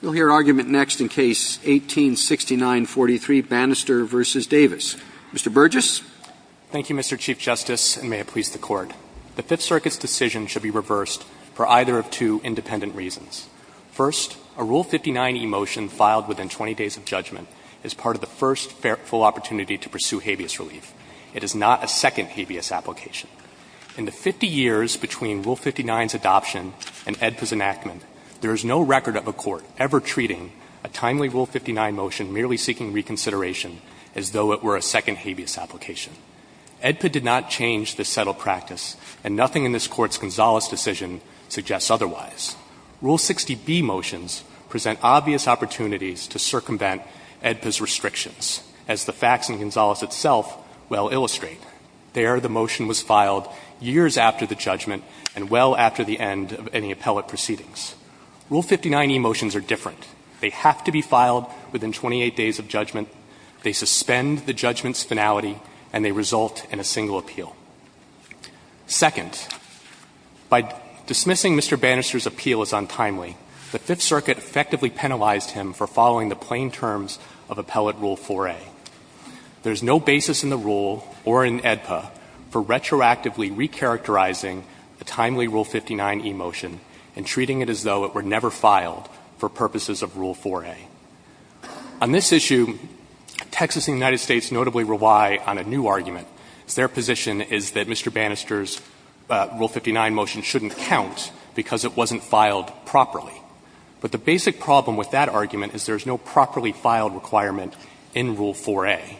We'll hear argument next in Case 18-6943, Banister v. Davis. Mr. Burgess. Thank you, Mr. Chief Justice, and may it please the Court. The Fifth Circuit's decision should be reversed for either of two independent reasons. First, a Rule 59e motion filed within 20 days of judgment is part of the first full opportunity to pursue habeas relief. It is not a second habeas application. In the 50 years between Rule 59's adoption and AEDPA's enactment, there is no record of a Court ever treating a timely Rule 59 motion merely seeking reconsideration as though it were a second habeas application. AEDPA did not change this settled practice, and nothing in this Court's Gonzales decision suggests otherwise. Rule 60b motions present obvious opportunities to circumvent AEDPA's restrictions, as the facts in Gonzales itself well illustrate. There, the motion was filed years after the judgment and well after the end of any appellate proceedings. Rule 59e motions are different. They have to be filed within 28 days of judgment, they suspend the judgment's finality, and they result in a single appeal. Second, by dismissing Mr. Banister's appeal as untimely, the Fifth Circuit effectively penalized him for following the plain terms of Appellate Rule 4a. There is no basis in the rule or in AEDPA for retroactively recharacterizing the timely Rule 59e motion and treating it as though it were never filed for purposes of Rule 4a. On this issue, Texas and the United States notably rely on a new argument. Their position is that Mr. Banister's Rule 59 motion shouldn't count because it wasn't filed properly. But the basic problem with that argument is there is no properly filed requirement in Rule 4a.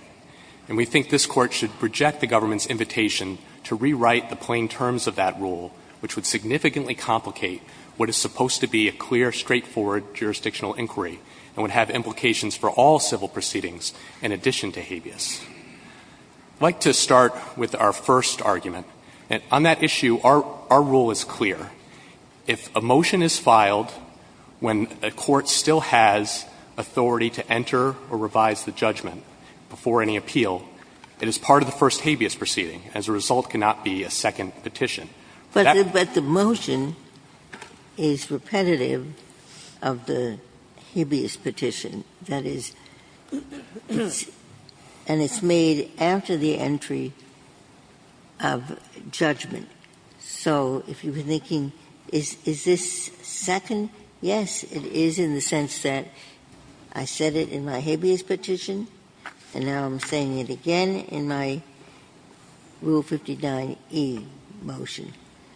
And we think this Court should reject the government's invitation to rewrite the plain terms of that rule, which would significantly complicate what is supposed to be a clear, straightforward jurisdictional inquiry and would have implications for all civil proceedings in addition to habeas. I'd like to start with our first argument. On that issue, our rule is clear. If a motion is filed when a court still has authority to enter or revise the judgment before any appeal, it is part of the first habeas proceeding. As a result, it cannot be a second petition. But that's the motion is repetitive of the habeas petition. That is, and it's made after the entry of judgment. So if you were thinking, is this second, yes, it is, in the sense that I said it in my habeas petition, and now I'm saying it again in my Rule 59e motion.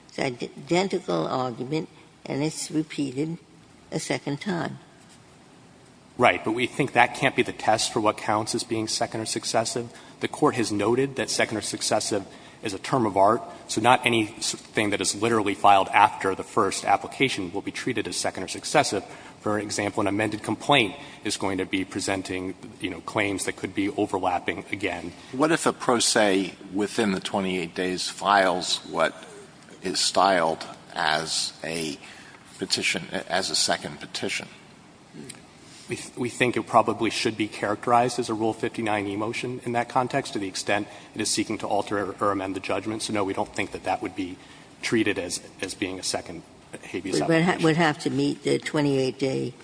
It's an identical argument, and it's repeated a second time. Right. But we think that can't be the test for what counts as being second or successive. The Court has noted that second or successive is a term of art, so not anything that is literally filed after the first application will be treated as second or successive. For example, an amended complaint is going to be presenting, you know, claims that could be overlapping again. Alitoso, what if a pro se within the 28 days files what is styled as a petition as a second petition? We think it probably should be characterized as a Rule 59e motion in that context to the extent it is seeking to alter or amend the judgment. So, no, we don't think that that would be treated as being a second habeas application. But it would have to meet the 28-day.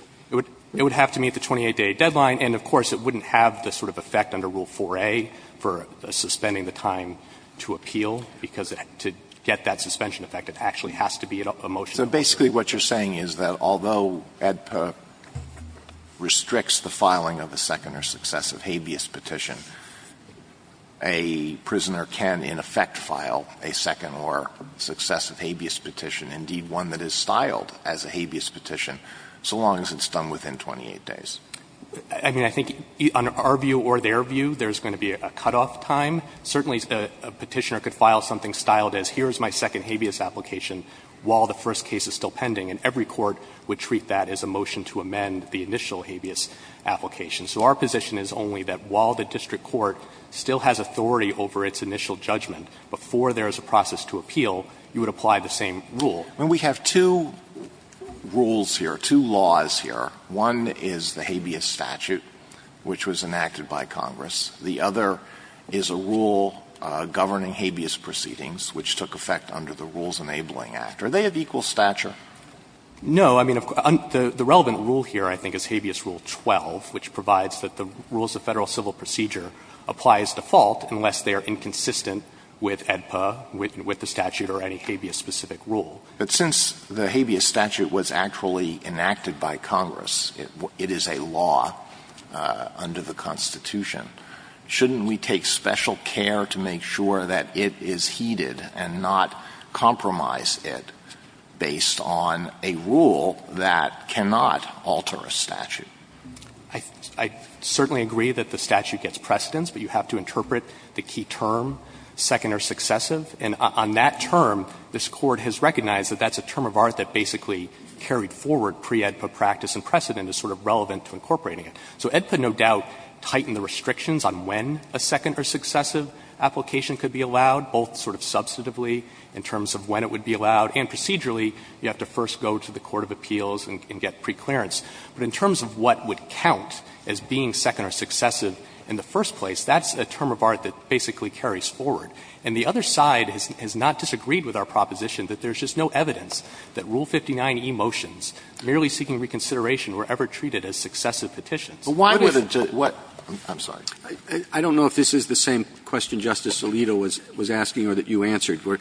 It would have to meet the 28-day deadline, and, of course, it wouldn't have the sort of effect under Rule 4a for suspending the time to appeal, because to get that suspension effect, it actually has to be a motion. Alitoso, basically what you're saying is that although AEDPA restricts the filing of a second or successive habeas petition, a prisoner can, in effect, file a second or successive habeas petition, indeed, one that is styled as a habeas petition, so long as it's done within 28 days. I mean, I think on our view or their view, there's going to be a cutoff time. Certainly, a petitioner could file something styled as here is my second habeas application while the first case is still pending, and every court would treat that as a motion to amend the initial habeas application. So our position is only that while the district court still has authority over its initial judgment, before there is a process to appeal, you would apply the same rule. Alitoso, when we have two rules here, two laws here, one is the habeas statute, which was enacted by Congress. The other is a rule governing habeas proceedings, which took effect under the rules enabling act. Are they of equal stature? No. I mean, the relevant rule here, I think, is habeas rule 12, which provides that the rules of Federal civil procedure apply as default unless they are inconsistent with AEDPA, with the statute or any habeas-specific rule. But since the habeas statute was actually enacted by Congress, it is a law under the Constitution, shouldn't we take special care to make sure that it is heeded and not compromise it based on a rule that cannot alter a statute? I certainly agree that the statute gets precedence, but you have to interpret the key term, second or successive. And on that term, this Court has recognized that that's a term of art that basically carried forward pre-AEDPA practice and precedent is sort of relevant to incorporating it. So AEDPA, no doubt, tightened the restrictions on when a second or successive application could be allowed, both sort of substantively in terms of when it would be allowed, and procedurally, you have to first go to the court of appeals and get preclearance. But in terms of what would count as being second or successive in the first place, that's a term of art that basically carries forward. And the other side has not disagreed with our proposition that there's just no evidence that Rule 59e motions merely seeking reconsideration were ever treated as successive petitions. But why would it take what – I'm sorry. I don't know if this is the same question Justice Alito was asking or that you answered, where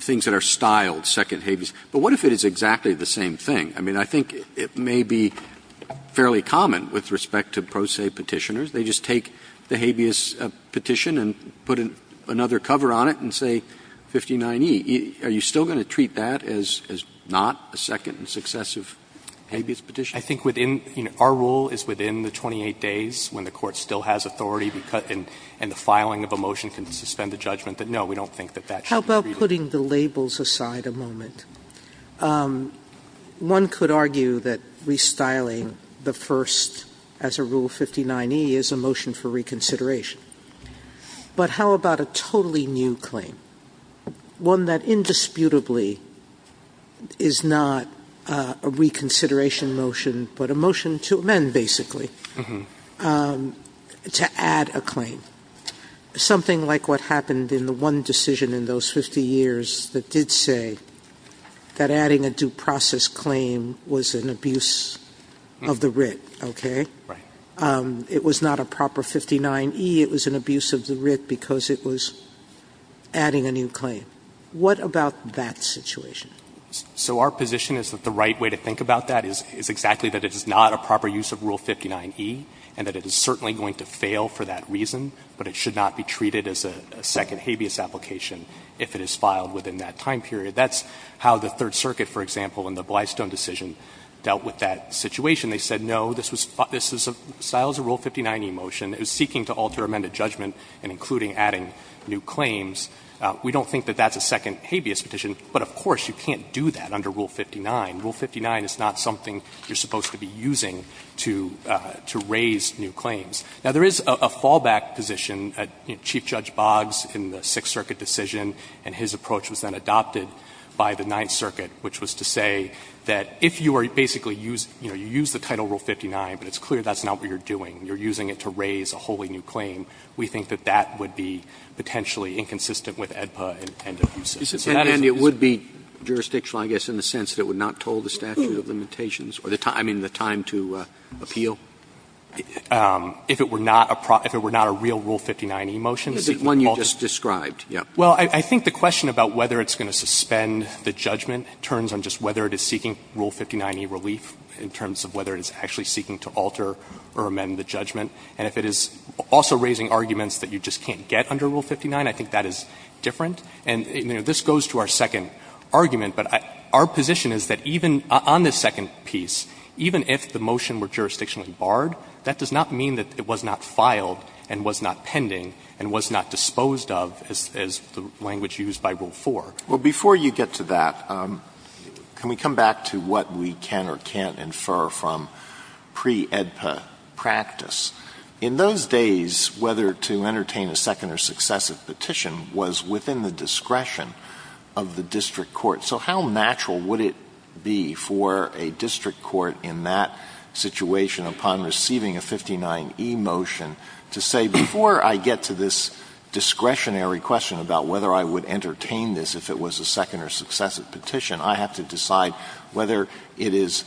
things that are styled second habeas. But what if it is exactly the same thing? I mean, I think it may be fairly common with respect to pro se Petitioners. They just take the habeas Petition and put another cover on it and say 59e. Are you still going to treat that as not a second and successive habeas Petition? I think within – our rule is within the 28 days when the court still has authority and the filing of a motion can suspend the judgment, that no, we don't think that that should be treated. Sotomayor, How about putting the labels aside a moment? One could argue that restyling the first as a Rule 59e is a motion for reconsideration. But how about a totally new claim, one that indisputably is not a reconsideration motion, but a motion to amend, basically, to add a claim? Something like what happened in the one decision in those 50 years that did say that adding a due process claim was an abuse of the writ, okay? It was not a proper 59e, it was an abuse of the writ because it was adding a new claim. What about that situation? So our position is that the right way to think about that is exactly that it is not a proper use of Rule 59e and that it is certainly going to fail for that reason, but it should not be treated as a second habeas application if it is filed within that time period. That's how the Third Circuit, for example, in the Blystone decision, dealt with that situation. They said no, this was filed as a Rule 59e motion. It was seeking to alter amended judgment and including adding new claims. We don't think that that's a second habeas petition, but of course you can't do that under Rule 59. Rule 59 is not something you are supposed to be using to raise new claims. Now, there is a fallback position. Chief Judge Boggs in the Sixth Circuit decision and his approach was then adopted by the Ninth Circuit, which was to say that if you are basically using, you know, you use the title Rule 59, but it's clear that's not what you are doing, you are using it to raise a wholly new claim, we think that that would be potentially inconsistent with AEDPA and abuse of it. Sotomayor, and it would be jurisdictional, I guess, in the sense that it would not toll the statute of limitations or the time, I mean, the time to appeal? If it were not a real Rule 59e motion, seeking to alter. It's the one you just described, yes. Well, I think the question about whether it's going to suspend the judgment turns on just whether it is seeking Rule 59e relief in terms of whether it is actually seeking to alter or amend the judgment. And if it is also raising arguments that you just can't get under Rule 59, I think that is different. And, you know, this goes to our second argument, but our position is that even on this second piece, even if the motion were jurisdictionally barred, that does not mean that it was not filed and was not pending and was not disposed of, as the language used by Rule 4. Alito, before you get to that, can we come back to what we can or can't infer from pre-AEDPA practice? In those days, whether to entertain a second or successive petition was within the discretion of the district court. So how natural would it be for a district court in that situation, upon receiving a 59e motion, to say before I get to this discretionary question about whether I would entertain this if it was a second or successive petition, I have to decide whether it is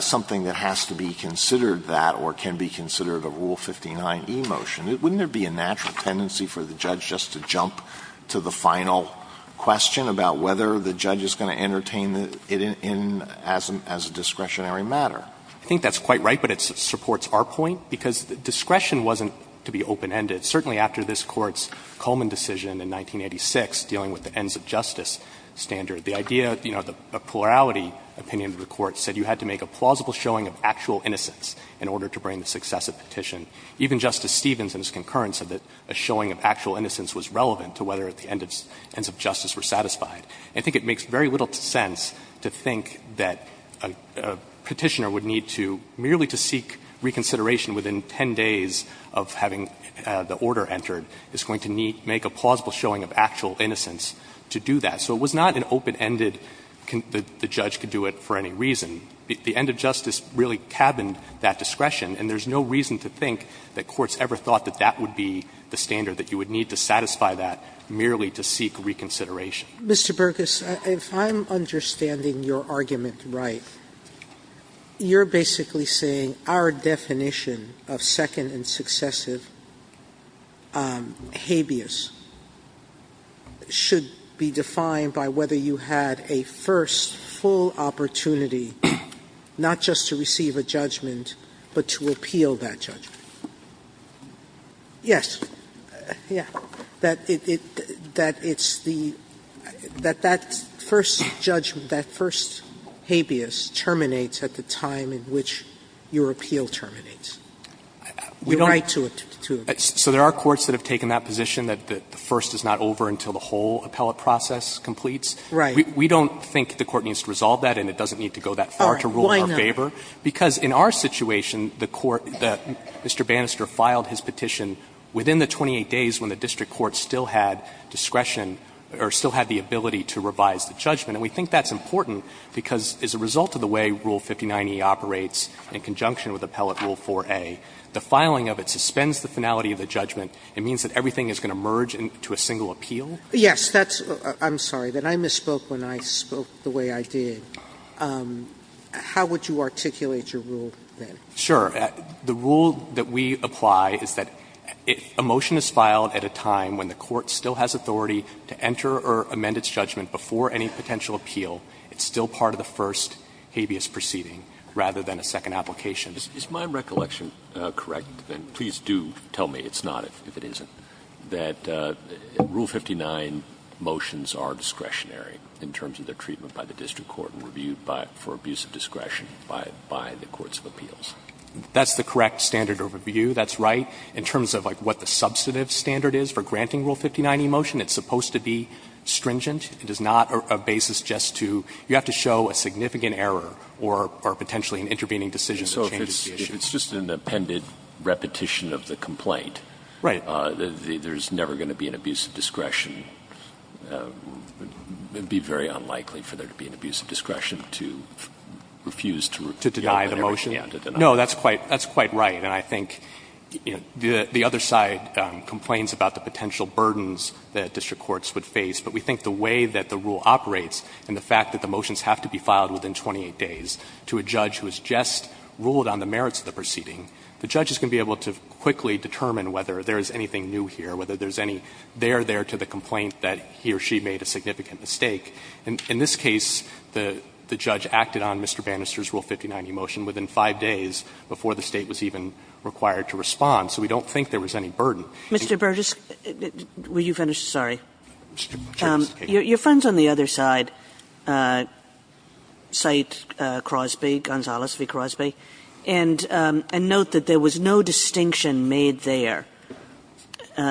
something that has to be considered that or can be considered a Rule 59e motion? Wouldn't there be a natural tendency for the judge just to jump to the final question about whether the judge is going to entertain it in as a discretionary matter? I think that's quite right, but it supports our point, because discretion wasn't to be open-ended. Certainly after this Court's Coleman decision in 1986 dealing with the ends of justice standard, the idea, you know, the plurality opinion of the Court said you had to make a plausible showing of actual innocence in order to bring the successive petition. Even Justice Stevens in his concurrence said that a showing of actual innocence was relevant to whether at the ends of justice were satisfied. I think it makes very little sense to think that a Petitioner would need to, merely to seek reconsideration within 10 days of having the order entered, is going to make a plausible showing of actual innocence to do that. So it was not an open-ended, the judge could do it for any reason. The end of justice really cabined that discretion, and there's no reason to think that courts ever thought that that would be the standard, that you would need to satisfy that merely to seek reconsideration. Sotomayor, if I'm understanding your argument right, you're basically saying our definition of second and successive habeas should be defined by whether you had a first full opportunity, not just to receive a judgment, but to appeal that judgment. Yes, that it's the, that that first judgment, that first habeas terminates at the time in which your appeal terminates. You're right to it, to it. So there are courts that have taken that position, that the first is not over until the whole appellate process completes. Right. We don't think the Court needs to resolve that, and it doesn't need to go that far to rule in our favor. All right. Why not? Because in our situation, the Court, Mr. Bannister filed his petition within the 28 days when the district court still had discretion, or still had the ability to revise the judgment. And we think that's important because as a result of the way Rule 59e operates in conjunction with Appellate Rule 4a, the filing of it suspends the finality of the judgment. It means that everything is going to merge into a single appeal. Yes, that's, I'm sorry, that I misspoke when I spoke the way I did. How would you articulate your rule then? Sure. The rule that we apply is that if a motion is filed at a time when the Court still has authority to enter or amend its judgment before any potential appeal, it's still part of the first habeas proceeding rather than a second application. Is my recollection correct, and please do tell me it's not, if it isn't, that Rule 59 motions are discretionary in terms of their treatment by the district court and reviewed for abuse of discretion by the courts of appeals? That's the correct standard of review, that's right. In terms of like what the substantive standard is for granting Rule 59e motion, it's supposed to be stringent. It is not a basis just to, you have to show a significant error or potentially an intervening decision that changes the issue. So if it's just an appended repetition of the complaint, there's never going to be an abuse of discretion. It would be very unlikely for there to be an abuse of discretion to refuse to review a motion. To deny the motion? No, that's quite right. And I think the other side complains about the potential burdens that district courts would face, but we think the way that the rule operates and the fact that the motions have to be filed within 28 days to a judge who has just ruled on the merits of the proceeding, the judge is going to be able to quickly determine whether there is anything new here, whether there's any there there to the complaint that he or she made a significant mistake. In this case, the judge acted on Mr. Bannister's Rule 59e motion within 5 days before the State was even required to respond. So we don't think there was any burden. Mr. Burgess. Were you finished? Sorry. Your friend's on the other side, Said Crosby, Gonzales v. Crosby. And note that there was no distinction made there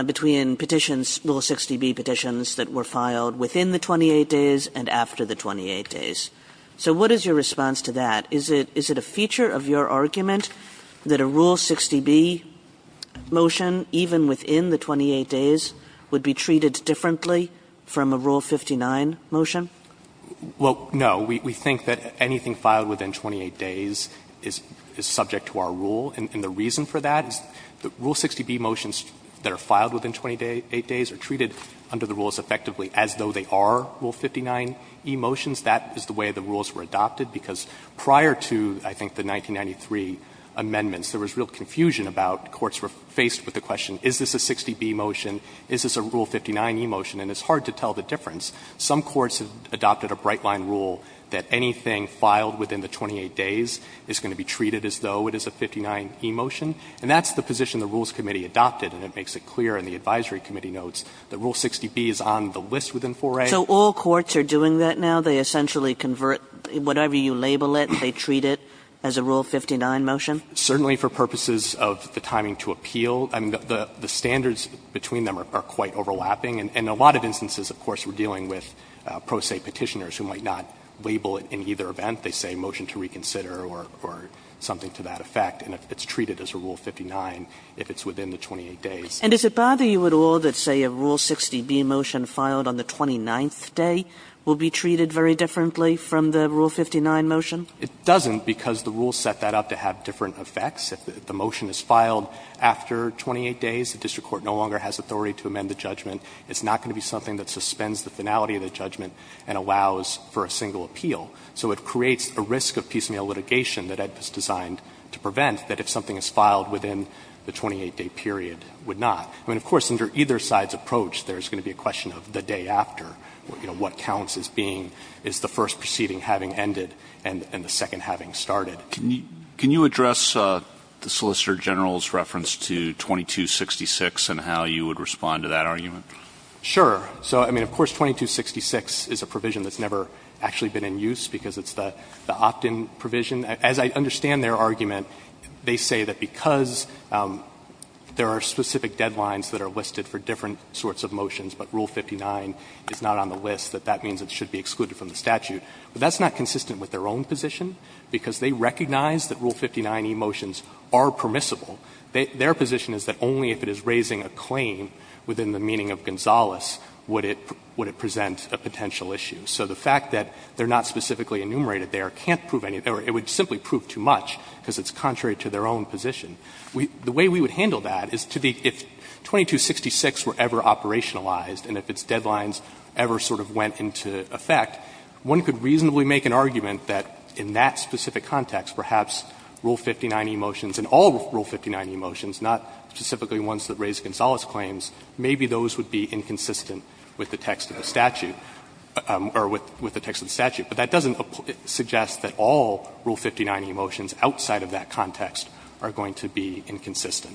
between petitions, Rule 60b petitions that were filed within the 28 days and after the 28 days. So what is your response to that? Is it a feature of your argument that a Rule 60b motion, even within the 28 days, would be treated differently from a Rule 59 motion? Well, no. We think that anything filed within 28 days is subject to our rule. And the reason for that is the Rule 60b motions that are filed within 28 days are treated under the rules effectively as though they are Rule 59e motions. That is the way the rules were adopted, because prior to, I think, the 1993 amendments, there was real confusion about courts were faced with the question, is this a 60b motion, is this a Rule 59e motion, and it's hard to tell the difference. Some courts have adopted a bright-line rule that anything filed within the 28 days is going to be treated as though it is a 59e motion. And that's the position the Rules Committee adopted, and it makes it clear in the advisory committee notes that Rule 60b is on the list within 4A. So all courts are doing that now? They essentially convert whatever you label it, they treat it as a Rule 59 motion? Certainly, for purposes of the timing to appeal. I mean, the standards between them are quite overlapping. In a lot of instances, of course, we're dealing with pro se Petitioners who might not label it in either event. They say motion to reconsider or something to that effect, and it's treated as a Rule 59 if it's within the 28 days. And does it bother you at all that, say, a Rule 60b motion filed on the 29th day will be treated very differently from the Rule 59 motion? It doesn't, because the rules set that up to have different effects. If the motion is filed after 28 days, the district court no longer has authority to amend the judgment. It's not going to be something that suspends the finality of the judgment and allows for a single appeal. So it creates a risk of piecemeal litigation that Ed was designed to prevent, that if something is filed within the 28-day period, would not. I mean, of course, under either side's approach, there's going to be a question of the day after, you know, what counts as being, is the first proceeding having ended and the second having started. Can you address the Solicitor General's reference to 2266 and how you would respond to that argument? Sure. So, I mean, of course, 2266 is a provision that's never actually been in use because it's the opt-in provision. As I understand their argument, they say that because there are specific deadlines that are listed for different sorts of motions, but Rule 59 is not on the list, that that means it should be excluded from the statute. But that's not consistent with their own position, because they recognize that Rule 59 e-motions are permissible. Their position is that only if it is raising a claim within the meaning of Gonzales would it present a potential issue. So the fact that they're not specifically enumerated there can't prove anything or it would simply prove too much, because it's contrary to their own position. The way we would handle that is to the 2266 were ever operationalized and if its deadlines ever sort of went into effect, one could reasonably make an argument that in that specific context, perhaps Rule 59 e-motions and all Rule 59 e-motions, not specifically ones that raise Gonzales claims, maybe those would be inconsistent with the text of the statute, or with the text of the statute. But that doesn't suggest that all Rule 59 e-motions outside of that context are going Alitoso,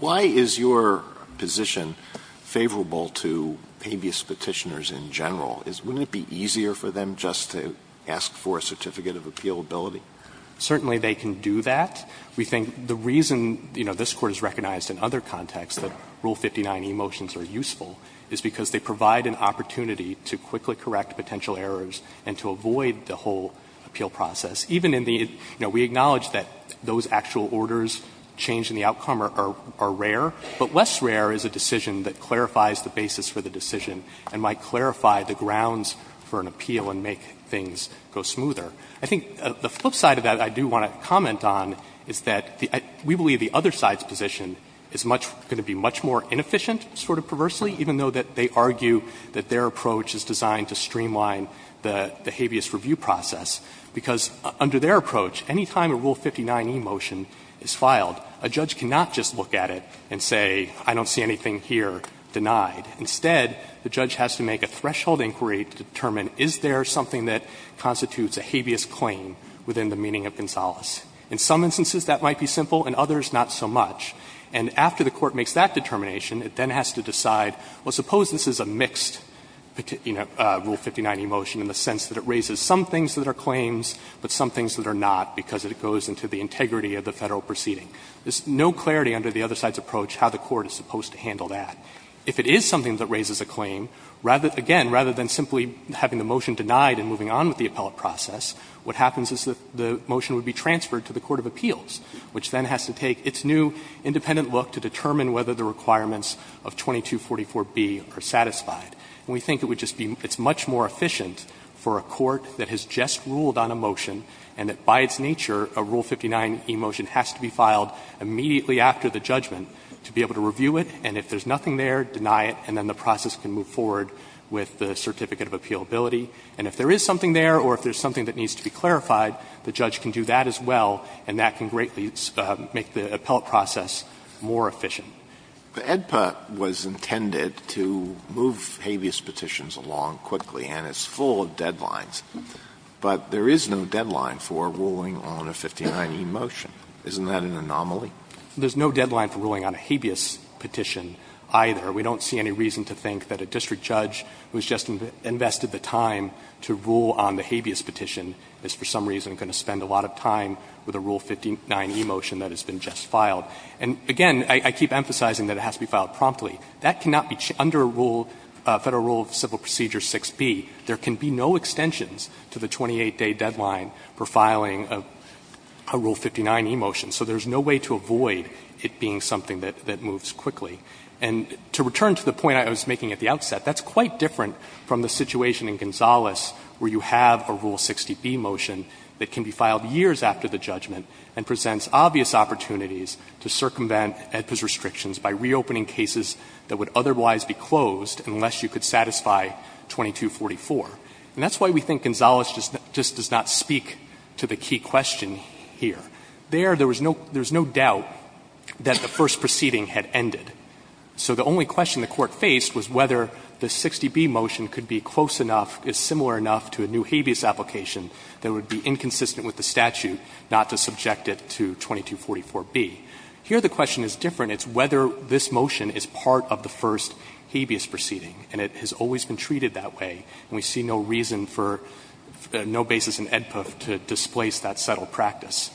why is your position favorable to habeas Petitioners in general? Wouldn't it be easier for them just to ask for a certificate of appealability? Certainly, they can do that. We think the reason, you know, this Court has recognized in other contexts that Rule 59 e-motions, they provide an opportunity to quickly correct potential errors and to avoid the whole appeal process. Even in the, you know, we acknowledge that those actual orders change in the outcome are rare, but less rare is a decision that clarifies the basis for the decision and might clarify the grounds for an appeal and make things go smoother. I think the flip side of that I do want to comment on is that we believe the other side's position is much, going to be much more inefficient, sort of perversely, even though they argue that their approach is designed to streamline the habeas review process, because under their approach, any time a Rule 59 e-motion is filed, a judge cannot just look at it and say, I don't see anything here denied. Instead, the judge has to make a threshold inquiry to determine, is there something that constitutes a habeas claim within the meaning of Gonzales? In some instances that might be simple, in others not so much. And after the court makes that determination, it then has to decide, well, suppose this is a mixed Rule 59 e-motion in the sense that it raises some things that are claims, but some things that are not, because it goes into the integrity of the Federal proceeding. There's no clarity under the other side's approach how the court is supposed to handle that. If it is something that raises a claim, rather, again, rather than simply having the motion denied and moving on with the appellate process, what happens is that the motion would be transferred to the court of appeals, which then has to take its new independent look to determine whether the requirements of 2244b are satisfied. And we think it would just be, it's much more efficient for a court that has just ruled on a motion, and that by its nature, a Rule 59 e-motion has to be filed immediately after the judgment to be able to review it, and if there's nothing there, deny it, and then the process can move forward with the certificate of appealability. And if there is something there or if there's something that needs to be clarified, the judge can do that as well, and that can greatly make the appellate process more efficient. Alitoso, was intended to move habeas petitions along quickly, and it's full of deadlines. But there is no deadline for ruling on a 59 e-motion. Isn't that an anomaly? There's no deadline for ruling on a habeas petition, either. We don't see any reason to think that a district judge who has just invested the time to rule on the habeas petition is for some reason going to spend a lot of time with a Rule 59 e-motion that has been just filed. And, again, I keep emphasizing that it has to be filed promptly. That cannot be under a rule, Federal Rule of Civil Procedure 6b. There can be no extensions to the 28-day deadline for filing a Rule 59 e-motion. So there's no way to avoid it being something that moves quickly. And to return to the point I was making at the outset, that's quite different from the situation in Gonzales, where you have a Rule 60b motion that can be filed years after the judgment, and presents obvious opportunities to circumvent AEDPA's restrictions by reopening cases that would otherwise be closed unless you could satisfy 2244. And that's why we think Gonzales just does not speak to the key question here. There, there was no doubt that the first proceeding had ended. So the only question the Court faced was whether the 60b motion could be close enough, is similar enough to a new habeas application that would be inconsistent with the statute not to subject it to 2244b. Here the question is different. It's whether this motion is part of the first habeas proceeding. And it has always been treated that way. And we see no reason for no basis in AEDPA to displace that settled practice.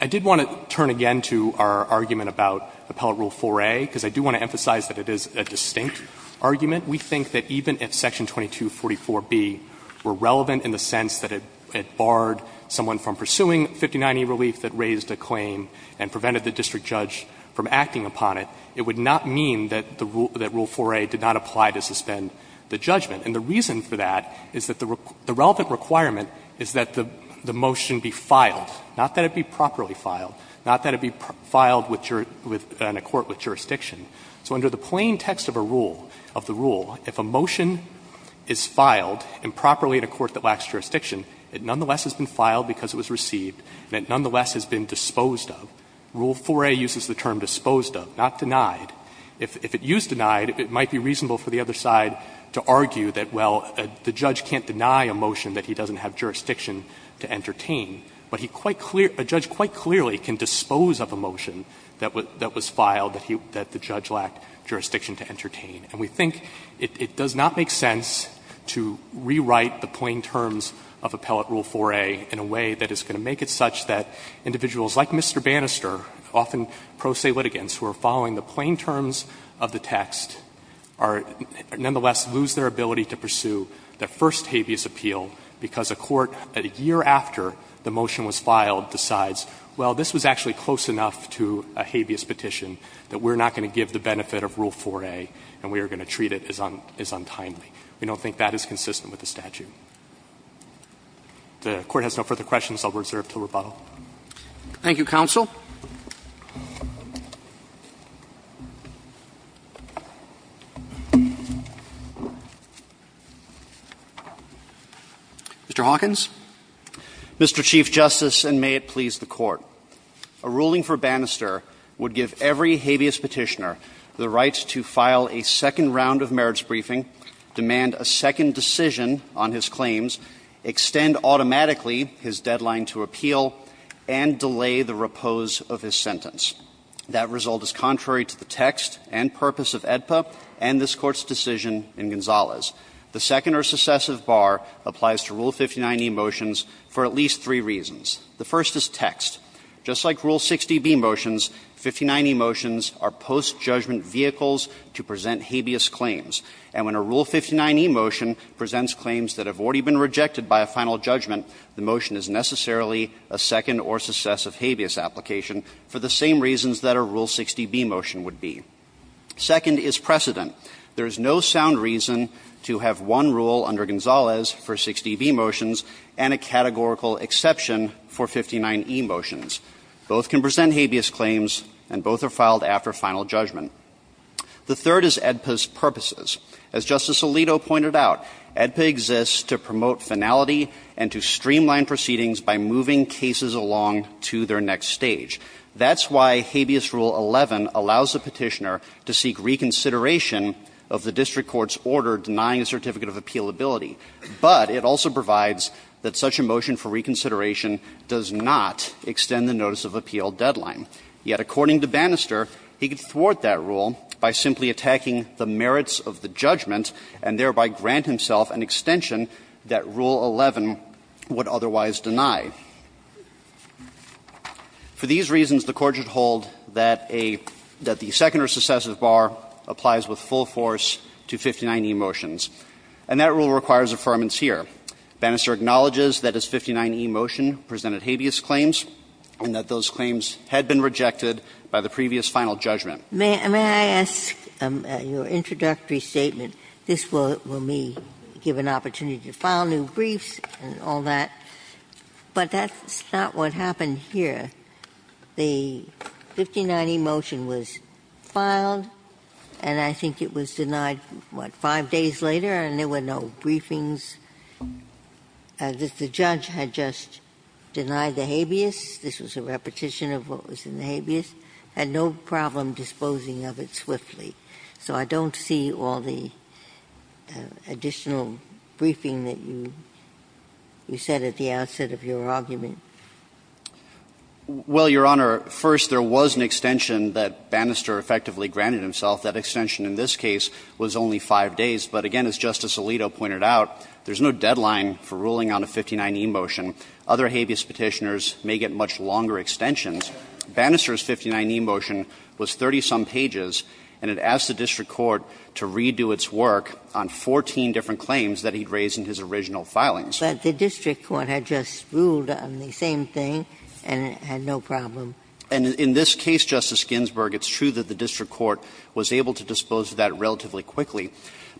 I did want to turn again to our argument about Appellate Rule 4a, because I do want to emphasize that it is a distinct argument. We think that even if section 2244b were relevant in the sense that it barred someone from pursuing 59e relief that raised a claim and prevented the district judge from acting upon it, it would not mean that the Rule 4a did not apply to suspend the judgment. And the reason for that is that the relevant requirement is that the motion be filed, not that it be properly filed, not that it be filed in a court with jurisdiction. So under the plain text of a rule, of the rule, if a motion is filed improperly in a court that lacks jurisdiction, it nonetheless has been filed because it was received and it nonetheless has been disposed of. Rule 4a uses the term disposed of, not denied. If it used denied, it might be reasonable for the other side to argue that, well, the judge can't deny a motion that he doesn't have jurisdiction to entertain, but he quite clear – a judge quite clearly can dispose of a motion that was filed that the judge lacked jurisdiction to entertain. And we think it does not make sense to rewrite the plain terms of Appellate Rule 4a in a way that is going to make it such that individuals like Mr. Bannister, often pro se litigants, who are following the plain terms of the text, are – nonetheless lose their ability to pursue their first habeas appeal because a court, a year after the motion was filed, decides, well, this was actually close enough to a habeas petition that we're not going to give the benefit of Rule 4a and we are going to treat it as untimely. We don't think that is consistent with the statute. If the Court has no further questions, I will reserve until rebuttal. Roberts. Thank you, counsel. Mr. Hawkins. Mr. Chief Justice, and may it please the Court. A ruling for Bannister would give every habeas petitioner the right to file a second round of merits briefing, demand a second decision on his claims, extend automatically his deadline to appeal, and delay the repose of his sentence. That result is contrary to the text and purpose of AEDPA and this Court's decision in Gonzalez. The second or successive bar applies to Rule 59e motions for at least three reasons. The first is text. Just like Rule 60b motions, 59e motions are post-judgment vehicles to present habeas claims. And when a Rule 59e motion presents claims that have already been rejected by a final judgment, the motion is necessarily a second or successive habeas application for the same reasons that a Rule 60b motion would be. Second is precedent. There is no sound reason to have one rule under Gonzalez for 60b motions and a categorical exception for 59e motions. Both can present habeas claims and both are filed after final judgment. The third is AEDPA's purposes. As Justice Alito pointed out, AEDPA exists to promote finality and to streamline proceedings by moving cases along to their next stage. That's why Habeas Rule 11 allows the Petitioner to seek reconsideration of the district court's order denying a certificate of appealability. But it also provides that such a motion for reconsideration does not extend the notice of appeal deadline. Yet according to Bannister, he could thwart that rule by simply attacking the merits of the judgment and thereby grant himself an extension that Rule 11 would otherwise deny. For these reasons, the Court should hold that a – that the second or successive bar applies with full force to 59e motions. And that rule requires affirmance here. Bannister acknowledges that his 59e motion presented habeas claims and that those claims had been rejected by the previous final judgment. Ginsburg. May I ask your introductory statement? This will give me an opportunity to file new briefs and all that. But that's not what happened here. The 59e motion was filed, and I think it was denied, what, five days later, and there were no briefings. The judge had just denied the habeas. This was a repetition of what was in the habeas. Had no problem disposing of it swiftly. So I don't see all the additional briefing that you said at the outset of your argument. Well, Your Honor, first, there was an extension that Bannister effectively granted himself. That extension in this case was only five days. But again, as Justice Alito pointed out, there's no deadline for ruling on a 59e motion. Other habeas Petitioners may get much longer extensions. Bannister's 59e motion was 30-some pages, and it asked the district court to redo its work on 14 different claims that he'd raised in his original filings. But the district court had just ruled on the same thing and had no problem. And in this case, Justice Ginsburg, it's true that the district court was able to dispose of that relatively quickly.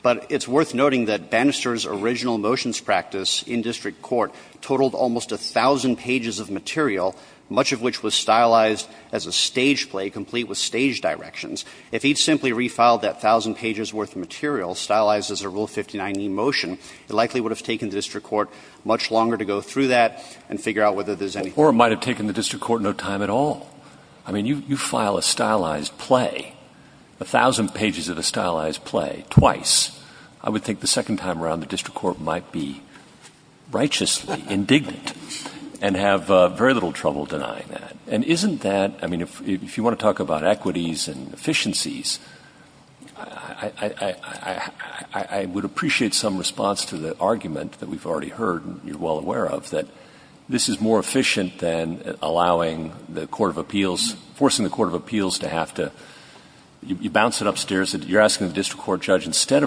But it's worth noting that Bannister's original motions practice in district court totaled almost 1,000 pages of material, much of which was stylized as a stage play complete with stage directions. If he'd simply refiled that 1,000 pages worth of material, stylized as a Rule 59e motion, it likely would have taken the district court much longer to go through that and figure out whether there's any. Or it might have taken the district court no time at all. I mean, you file a stylized play, 1,000 pages of a stylized play, twice. I would think the second time around, the district court might be righteously indignant and have very little trouble denying that. And isn't that, I mean, if you want to talk about equities and efficiencies, I would appreciate some response to the argument that we've already heard and you're well aware of, that this is more efficient than allowing the court of appeals, forcing the court of appeals to have to, you bounce it upstairs, you're asking the court of appeals to decide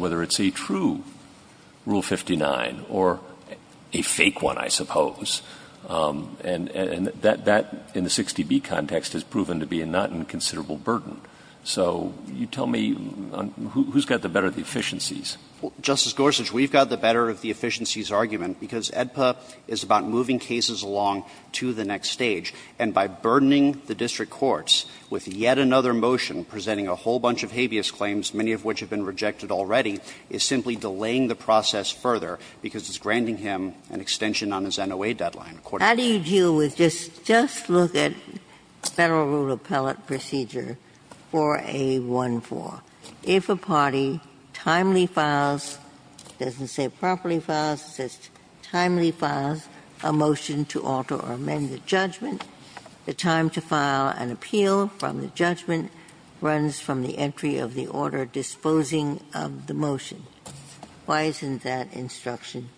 whether it's a true Rule 59, or a fake one, I suppose. And that in the 60B context has proven to be a not inconsiderable burden. So you tell me, who's got the better of the efficiencies? Justice Gorsuch, we've got the better of the efficiencies of Rule 59, and we've got the better of the efficiencies of Rule 59. I think that's the best argument, because AEDPA is about moving cases along to the next stage, and by burdening the district courts with yet another motion presenting a whole bunch of habeas claims, many of which have been rejected already, is simply delaying the process further because it's granting him an extension on his NOA deadline. How do you deal with just, just look at Federal Rule Appellate Procedure 4A14. If a party timely files, it doesn't say properly files, it says timely files a motion to alter or amend the judgment, the time to file an appeal from the judgment runs from the entry of the order disposing of the motion. Why isn't that instruction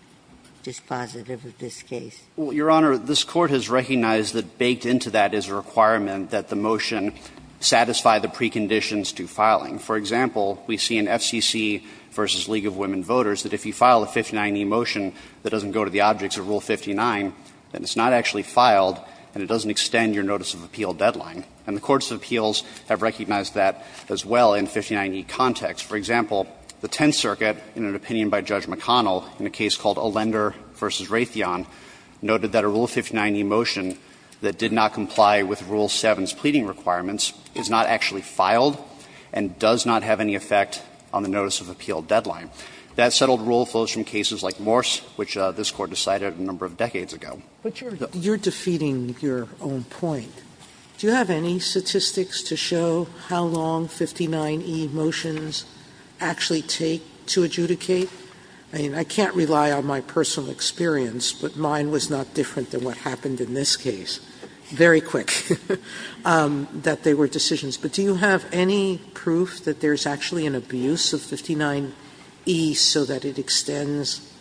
dispositive of this case? Well, Your Honor, this Court has recognized that baked into that is a requirement that the motion satisfy the preconditions to filing. For example, we see in FCC v. League of Women Voters that if you file a 59e motion that doesn't go to the objects of Rule 59, then it's not actually filed, and it doesn't extend your notice of appeal deadline. And the courts of appeals have recognized that as well in 59e context. For example, the Tenth Circuit, in an opinion by Judge McConnell in a case called Lender v. Raytheon, noted that a Rule 59e motion that did not comply with Rule 7's pleading requirements is not actually filed and does not have any effect on the notice of appeal deadline. That settled rule flows from cases like Morse, which this Court decided a number of decades ago. Sotomayor, you're defeating your own point. Do you have any statistics to show how long 59e motions actually take to adjudicate? I mean, I can't rely on my personal experience, but mine was not different than what happened in this case, very quick, that they were decisions. But do you have any proof that there's actually an abuse of 59e so that it extends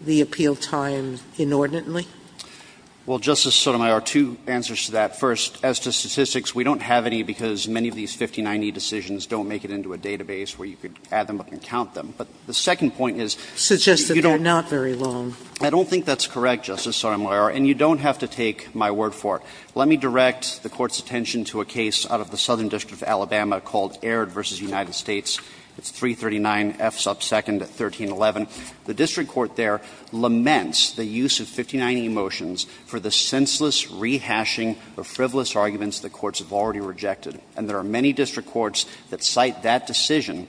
the appeal time inordinately? Well, Justice Sotomayor, two answers to that. First, as to statistics, we don't have any because many of these 59e decisions don't make it into a database where you could add them up and count them. But the second point is you don't have to take my word for it. Let me direct the Court's attention to a case out of the Southern District of Alabama called Aird v. United States. It's 339 F sub 2nd, 1311. The district court there laments the use of 59e motions for the senseless rehashing of frivolous arguments the courts have already rejected. And there are many district courts that cite that decision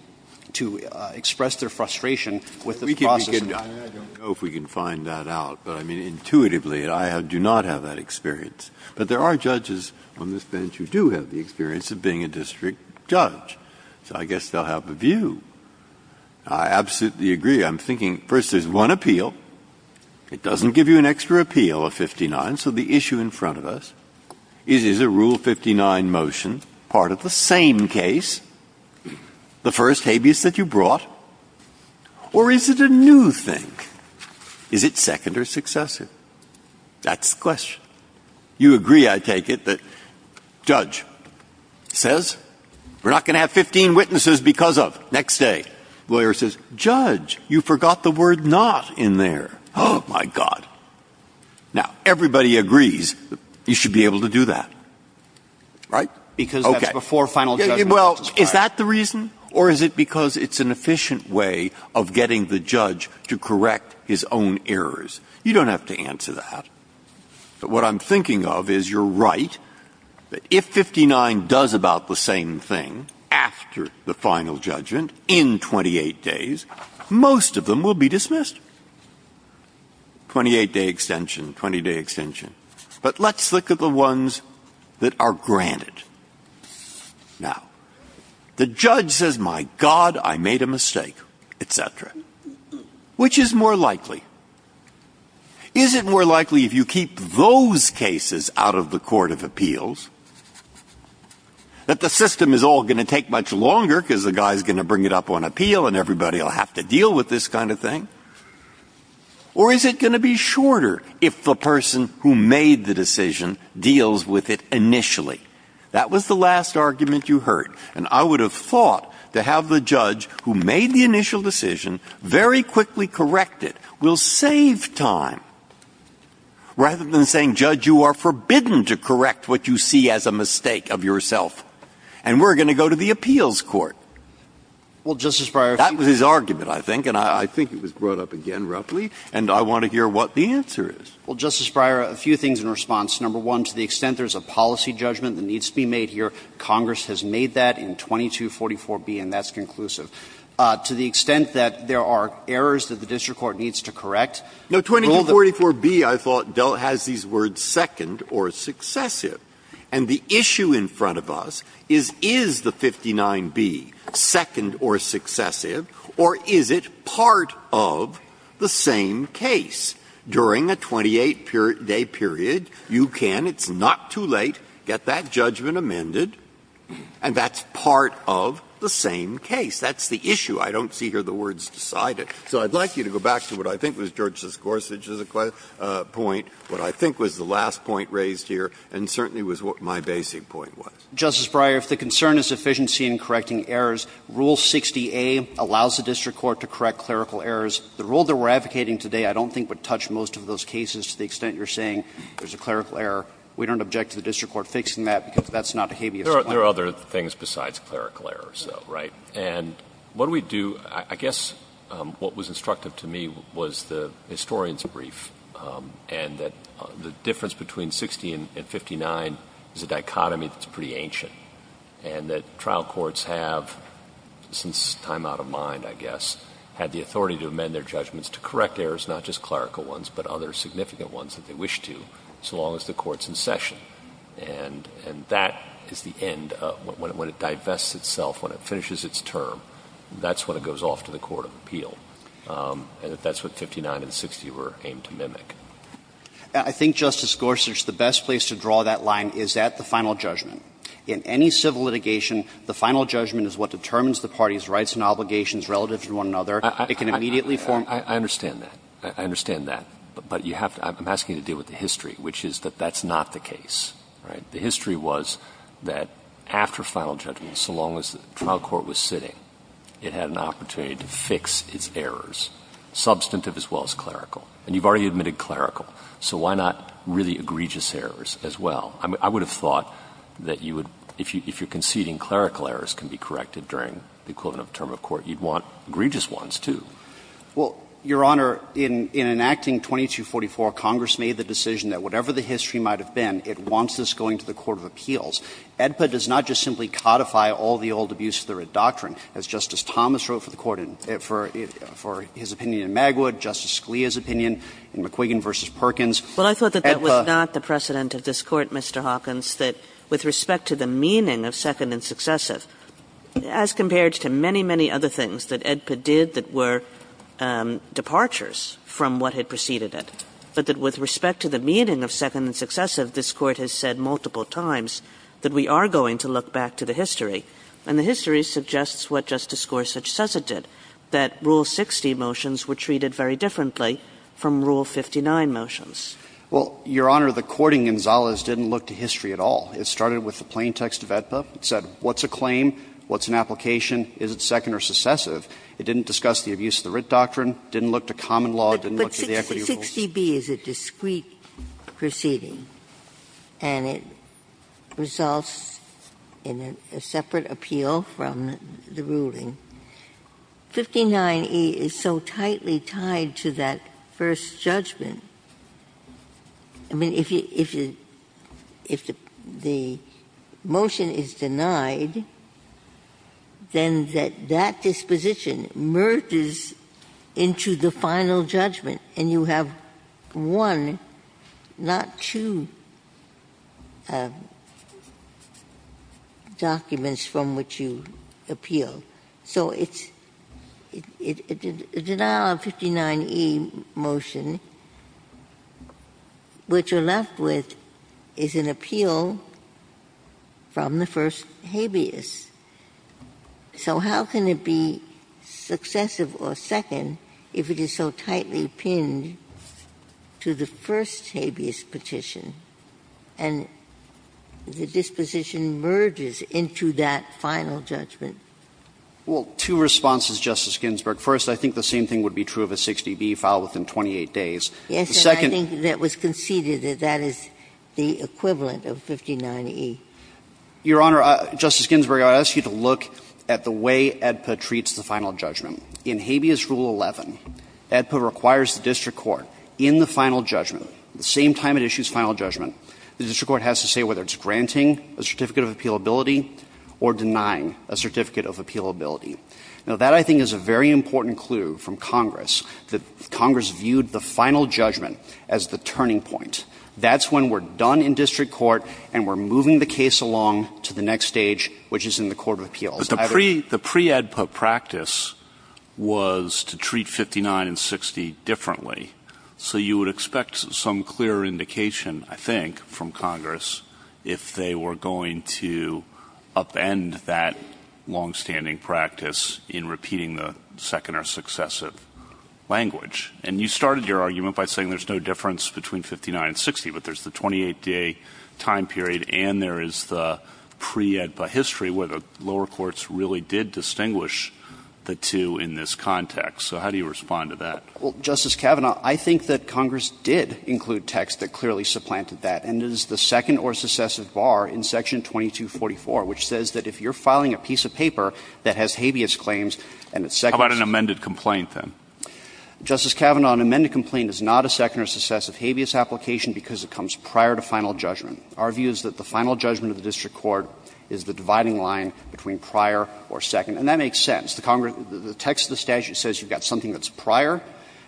to express their frustration with the process of the court. I don't know if we can find that out, but, I mean, intuitively, I do not have that experience. But there are judges on this bench who do have the experience of being a district judge, so I guess they'll have a view. I absolutely agree. I'm thinking, first, there's one appeal. It doesn't give you an extra appeal, a 59, so the issue in front of us is, is a Rule 59 motion part of the same case, the first habeas that you brought, or is it a new thing? Is it second or successive? That's the question. You agree, I take it, that judge says, we're not going to have 15 witnesses because of next day. Lawyer says, judge, you forgot the word not in there. Oh, my God. Now, everybody agrees you should be able to do that. Right? Because that's before final judgment. Well, is that the reason, or is it because it's an efficient way of getting the judge to correct his own errors? You don't have to answer that. But what I'm thinking of is, you're right, that if 59 does about the same thing after the final judgment in 28 days, most of them will be dismissed. 28-day extension, 20-day extension. But let's look at the ones that are granted. Now, the judge says, my God, I made a mistake, et cetera. Which is more likely? Is it more likely if you keep those cases out of the court of appeals that the system is all going to take much longer because the guy's going to bring it up on appeal and everybody will have to deal with this kind of thing? Or is it going to be shorter if the person who made the decision deals with it initially? That was the last argument you heard. And I would have thought to have the judge who made the initial decision very quickly correct it will save time, rather than saying, judge, you are forbidden to correct what you see as a mistake of yourself. And we're going to go to the appeals court. Well, Justice Breyer, if you... That was his argument, I think. And I think it was brought up again, roughly. And I want to hear what the answer is. Well, Justice Breyer, a few things in response. Number one, to the extent there's a policy judgment that needs to be made here, Congress has made that in 2244B, and that's conclusive. To the extent that there are errors that the district court needs to correct... No, 2244B, I thought, has these words, second or successive. And the issue in front of us is, is the 59B second or successive, or is it part of the same case? During a 28-day period, you can, it's not too late, get that judgment amended, and that's part of the same case. That's the issue. I don't see here the words decided. So I'd like you to go back to what I think was George Siscorsich's point, what I think was the last point raised here, and certainly was what my basic point was. Justice Breyer, if the concern is efficiency in correcting errors, Rule 60A allows the district court to correct clerical errors. The rule that we're advocating today I don't think would touch most of those cases to the extent you're saying there's a clerical error. We don't object to the district court fixing that, because that's not a habeas point. There are other things besides clerical errors, though, right? And what we do, I guess what was instructive to me was the historian's brief, and that the difference between 60 and 59 is a dichotomy that's pretty ancient, and that trial courts have, since time out of mind, I guess, had the authority to amend their judgments to correct errors, not just clerical ones, but other significant ones that they wish to, so long as the court's in session. And that is the end. When it divests itself, when it finishes its term, that's when it goes off to the I think, Justice Gorsuch, the best place to draw that line is at the final judgment. In any civil litigation, the final judgment is what determines the party's rights and obligations relative to one another. It can immediately form the basis of the final judgment. I understand that. I understand that. But you have to – I'm asking you to deal with the history, which is that that's not the case, right? The history was that after final judgment, so long as the trial court was sitting, it had an opportunity to fix its errors, substantive as well as clerical. And you've already admitted clerical, so why not really egregious errors as well? I would have thought that you would – if you're conceding clerical errors can be corrected during the quote-unquote term of court, you'd want egregious ones, too. Well, Your Honor, in enacting 2244, Congress made the decision that whatever the history might have been, it wants this going to the court of appeals. AEDPA does not just simply codify all the old abuse of the writ doctrine. As Justice Thomas wrote for the court in – for his opinion in Magwood, Justice Scalia's opinion in McQuiggan v. Perkins, AEDPA – Well, I thought that that was not the precedent of this Court, Mr. Hawkins, that with respect to the meaning of second and successive, as compared to many, many other things that AEDPA did that were departures from what had preceded it, but that with respect to the meaning of second and successive, this Court has said multiple times that we are going to look back to the history. And the history suggests what Justice Gorsuch says it did, that Rule 60 motions were treated very differently from Rule 59 motions. Well, Your Honor, the courting in Zalas didn't look to history at all. It started with the plain text of AEDPA. It said what's a claim, what's an application, is it second or successive. It didn't discuss the abuse of the writ doctrine, didn't look to common law, didn't look to the equity rules. Ginsburg. 60B is a discrete proceeding, and it results in a separate appeal from the ruling. 59E is so tightly tied to that first judgment. I mean, if you – if the motion is denied, then that disposition merges into the final judgment, and you have one, not two documents from which you appeal. So it's – a denial of 59E motion, what you're left with is an appeal from the first habeas. So how can it be successive or second if it is so tightly pinned to the first habeas petition, and the disposition merges into that final judgment? Well, two responses, Justice Ginsburg. First, I think the same thing would be true of a 60B filed within 28 days. The second – Yes, but I think that was conceded that that is the equivalent of 59E. Your Honor, Justice Ginsburg, I would ask you to look at the way AEDPA treats the final judgment. In habeas rule 11, AEDPA requires the district court in the final judgment, the same time it issues final judgment, the district court has to say whether it's granting a certificate of appealability or denying a certificate of appealability. Now, that, I think, is a very important clue from Congress, that Congress viewed the final judgment as the turning point. That's when we're done in district court and we're moving the case along to the next stage, which is in the court of appeals. But the pre-AEDPA practice was to treat 59 and 60 differently. So you would expect some clear indication, I think, from Congress if they were going to upend that longstanding practice in repeating the second or successive language. And you started your argument by saying there's no difference between 59 and 60, but there's the 28-day time period and there is the pre-AEDPA history where the lower courts really did distinguish the two in this context. So how do you respond to that? Well, Justice Kavanaugh, I think that Congress did include text that clearly supplanted that, and it is the second or successive bar in section 2244, which says that if you're filing a piece of paper that has habeas claims and it's second How about an amended complaint, then? Justice Kavanaugh, an amended complaint is not a second or successive habeas application because it comes prior to final judgment. Our view is that the final judgment of the district court is the dividing line between prior or second, and that makes sense. The text of the statute says you've got something that's prior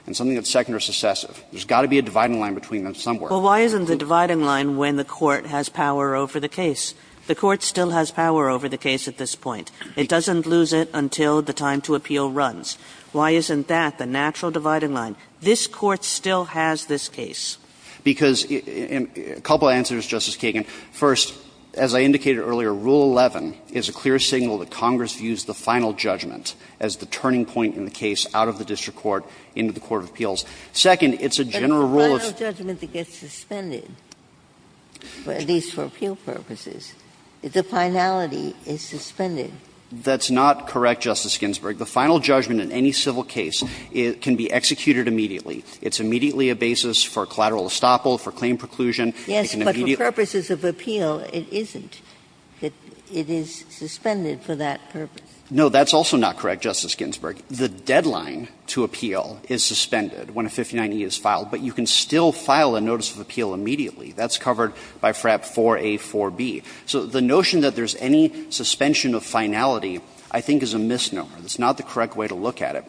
and something that's second or successive. There's got to be a dividing line between them somewhere. Well, why isn't the dividing line when the court has power over the case? The court still has power over the case at this point. It doesn't lose it until the time to appeal runs. Why isn't that the natural dividing line? This Court still has this case. Because – a couple of answers, Justice Kagan. First, as I indicated earlier, Rule 11 is a clear signal that Congress views the final judgment as the turning point in the case out of the district court into the court of appeals. Second, it's a general rule of – But the final judgment that gets suspended, at least for appeal purposes, the finality is suspended. That's not correct, Justice Ginsburg. The final judgment in any civil case can be executed immediately. It's immediately a basis for collateral estoppel, for claim preclusion. It can immediately – Yes, but for purposes of appeal, it isn't. It is suspended for that purpose. No, that's also not correct, Justice Ginsburg. The deadline to appeal is suspended when a 59E is filed, but you can still file a notice of appeal immediately. That's covered by FRAP 4A, 4B. So the notion that there's any suspension of finality, I think, is a misnomer. It's not the correct way to look at it.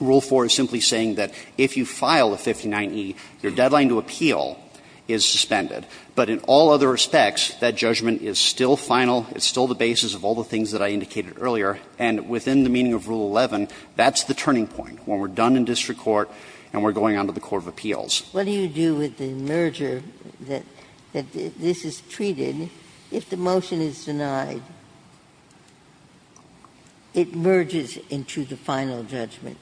Rule 4 is simply saying that if you file a 59E, your deadline to appeal is suspended. But in all other respects, that judgment is still final, it's still the basis of all the things that I indicated earlier, and within the meaning of Rule 11, that's the turning point, when we're done in district court and we're going on to the court of appeals. Ginsburg. What do you do with the merger that this is treated? I mean, if the motion is denied, it merges into the final judgment.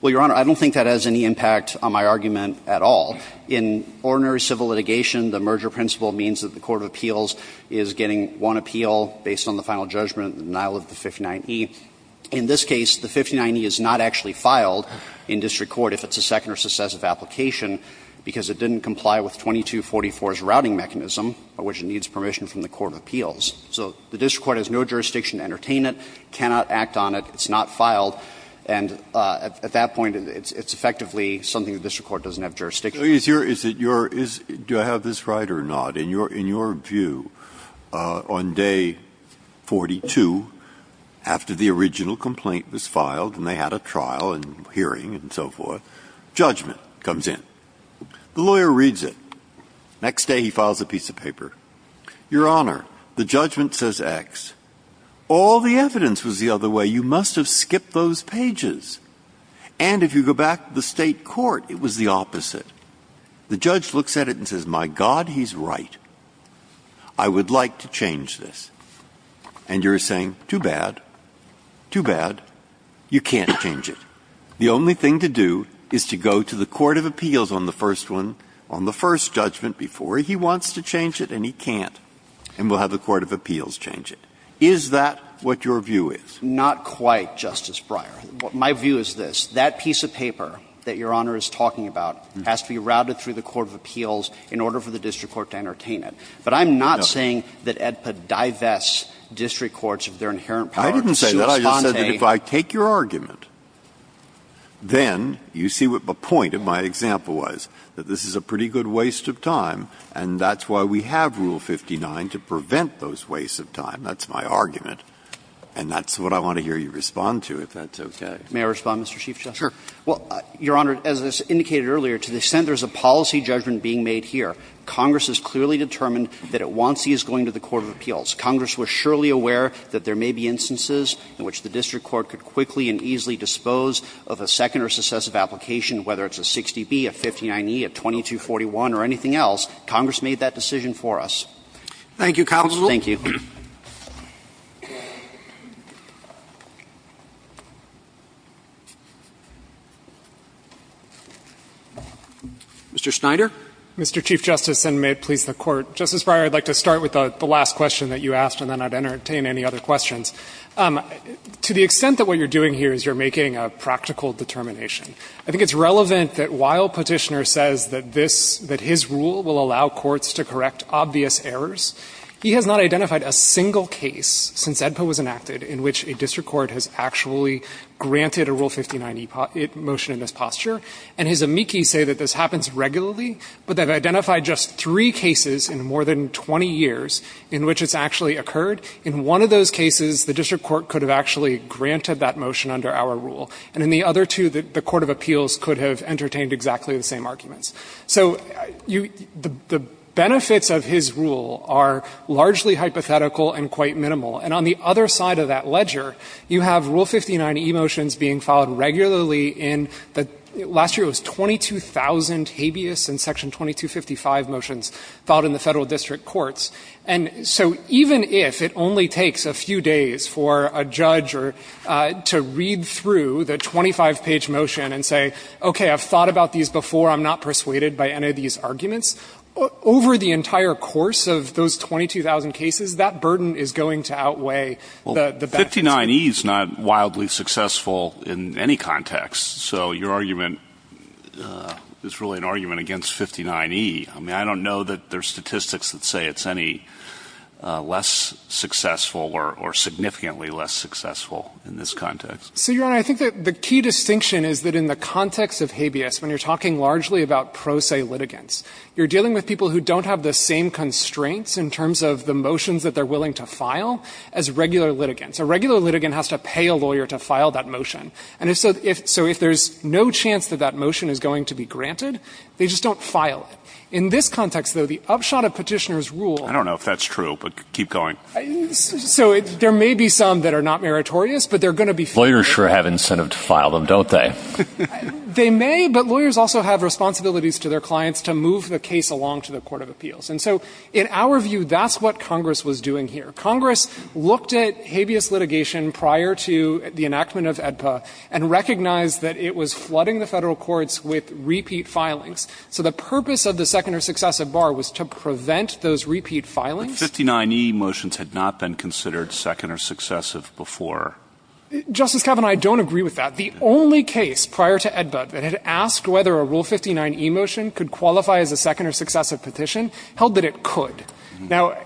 Well, Your Honor, I don't think that has any impact on my argument at all. In ordinary civil litigation, the merger principle means that the court of appeals is getting one appeal based on the final judgment, the denial of the 59E. In this case, the 59E is not actually filed in district court if it's a second or successive application, because it didn't comply with 2244's routing mechanism. It needs permission from the court of appeals. So the district court has no jurisdiction to entertain it, cannot act on it, it's not filed, and at that point, it's effectively something the district court doesn't have jurisdiction to do. Breyer, do I have this right or not? In your view, on day 42, after the original complaint was filed, and they had a trial and hearing and so forth, judgment comes in. The lawyer reads it. Next day, he files a piece of paper. Your Honor, the judgment says X. All the evidence was the other way. You must have skipped those pages. And if you go back to the State court, it was the opposite. The judge looks at it and says, my God, he's right. I would like to change this. And you're saying, too bad, too bad. You can't change it. The only thing to do is to go to the court of appeals on the first one, on the first judgment before he wants to change it and he can't, and we'll have the court of appeals change it. Is that what your view is? Not quite, Justice Breyer. My view is this. That piece of paper that Your Honor is talking about has to be routed through the court of appeals in order for the district court to entertain it. But I'm not saying that AEDPA divests district courts of their inherent power to sue Esponte. I didn't say that. I just said that if I take your argument, then you see what the point of my example was, that this is a pretty good waste of time, and that's why we have Rule 59 to prevent those wastes of time. That's my argument. And that's what I want to hear you respond to, if that's okay. May I respond, Mr. Chief Justice? Sure. Well, Your Honor, as was indicated earlier, to the extent there's a policy judgment being made here, Congress has clearly determined that it wants these going to the court of appeals. Congress was surely aware that there may be instances in which the district court could quickly and easily dispose of a second or successive application, whether it's a 60B, a 59E, a 2241, or anything else. Congress made that decision for us. Thank you, counsel. Thank you. Mr. Schneider. Mr. Chief Justice, and may it please the Court. Justice Breyer, I'd like to start with the last question that you asked, and then I'd entertain any other questions. To the extent that what you're doing here is you're making a practical determination, I think it's relevant that while Petitioner says that this, that his rule will allow courts to correct obvious errors, he has not identified a single case since AEDPA was enacted in which a district court has actually granted a Rule 59E motion in this posture, and his amici say that this happens regularly, but they've identified just three cases in more than 20 years in which it's actually occurred. In one of those cases, the district court could have actually granted that motion under our rule. And in the other two, the court of appeals could have entertained exactly the same arguments. So you — the benefits of his rule are largely hypothetical and quite minimal. And on the other side of that ledger, you have Rule 59E motions being filed regularly in the — last year it was 22,000 habeas in Section 2255 motions filed in the Federal District Courts. And so even if it only takes a few days for a judge or — to read through the 25-page motion and say, okay, I've thought about these before, I'm not persuaded by any of these arguments, over the entire course of those 22,000 cases, that burden is going to outweigh the benefits. Well, 59E is not wildly successful in any context. So your argument is really an argument against 59E. I mean, I don't know that there's statistics that say it's any less successful or significantly less successful in this context. So, Your Honor, I think that the key distinction is that in the context of habeas, when you're talking largely about pro se litigants, you're dealing with people who don't have the same constraints in terms of the motions that they're willing to file as regular litigants. A regular litigant has to pay a lawyer to file that motion. And if so — so if there's no chance that that motion is going to be granted, they just don't file it. In this context, though, the upshot of Petitioner's rule — I don't know if that's true, but keep going. So there may be some that are not meritorious, but they're going to be — Lawyers sure have incentive to file them, don't they? They may, but lawyers also have responsibilities to their clients to move the case along to the court of appeals. And so in our view, that's what Congress was doing here. Congress looked at habeas litigation prior to the enactment of AEDPA and recognized that it was flooding the Federal courts with repeat filings. So the purpose of the second or successive bar was to prevent those repeat filings. But 59e motions had not been considered second or successive before. Justice Kavanaugh, I don't agree with that. The only case prior to AEDPA that had asked whether a Rule 59e motion could qualify as a second or successive petition held that it could. Now,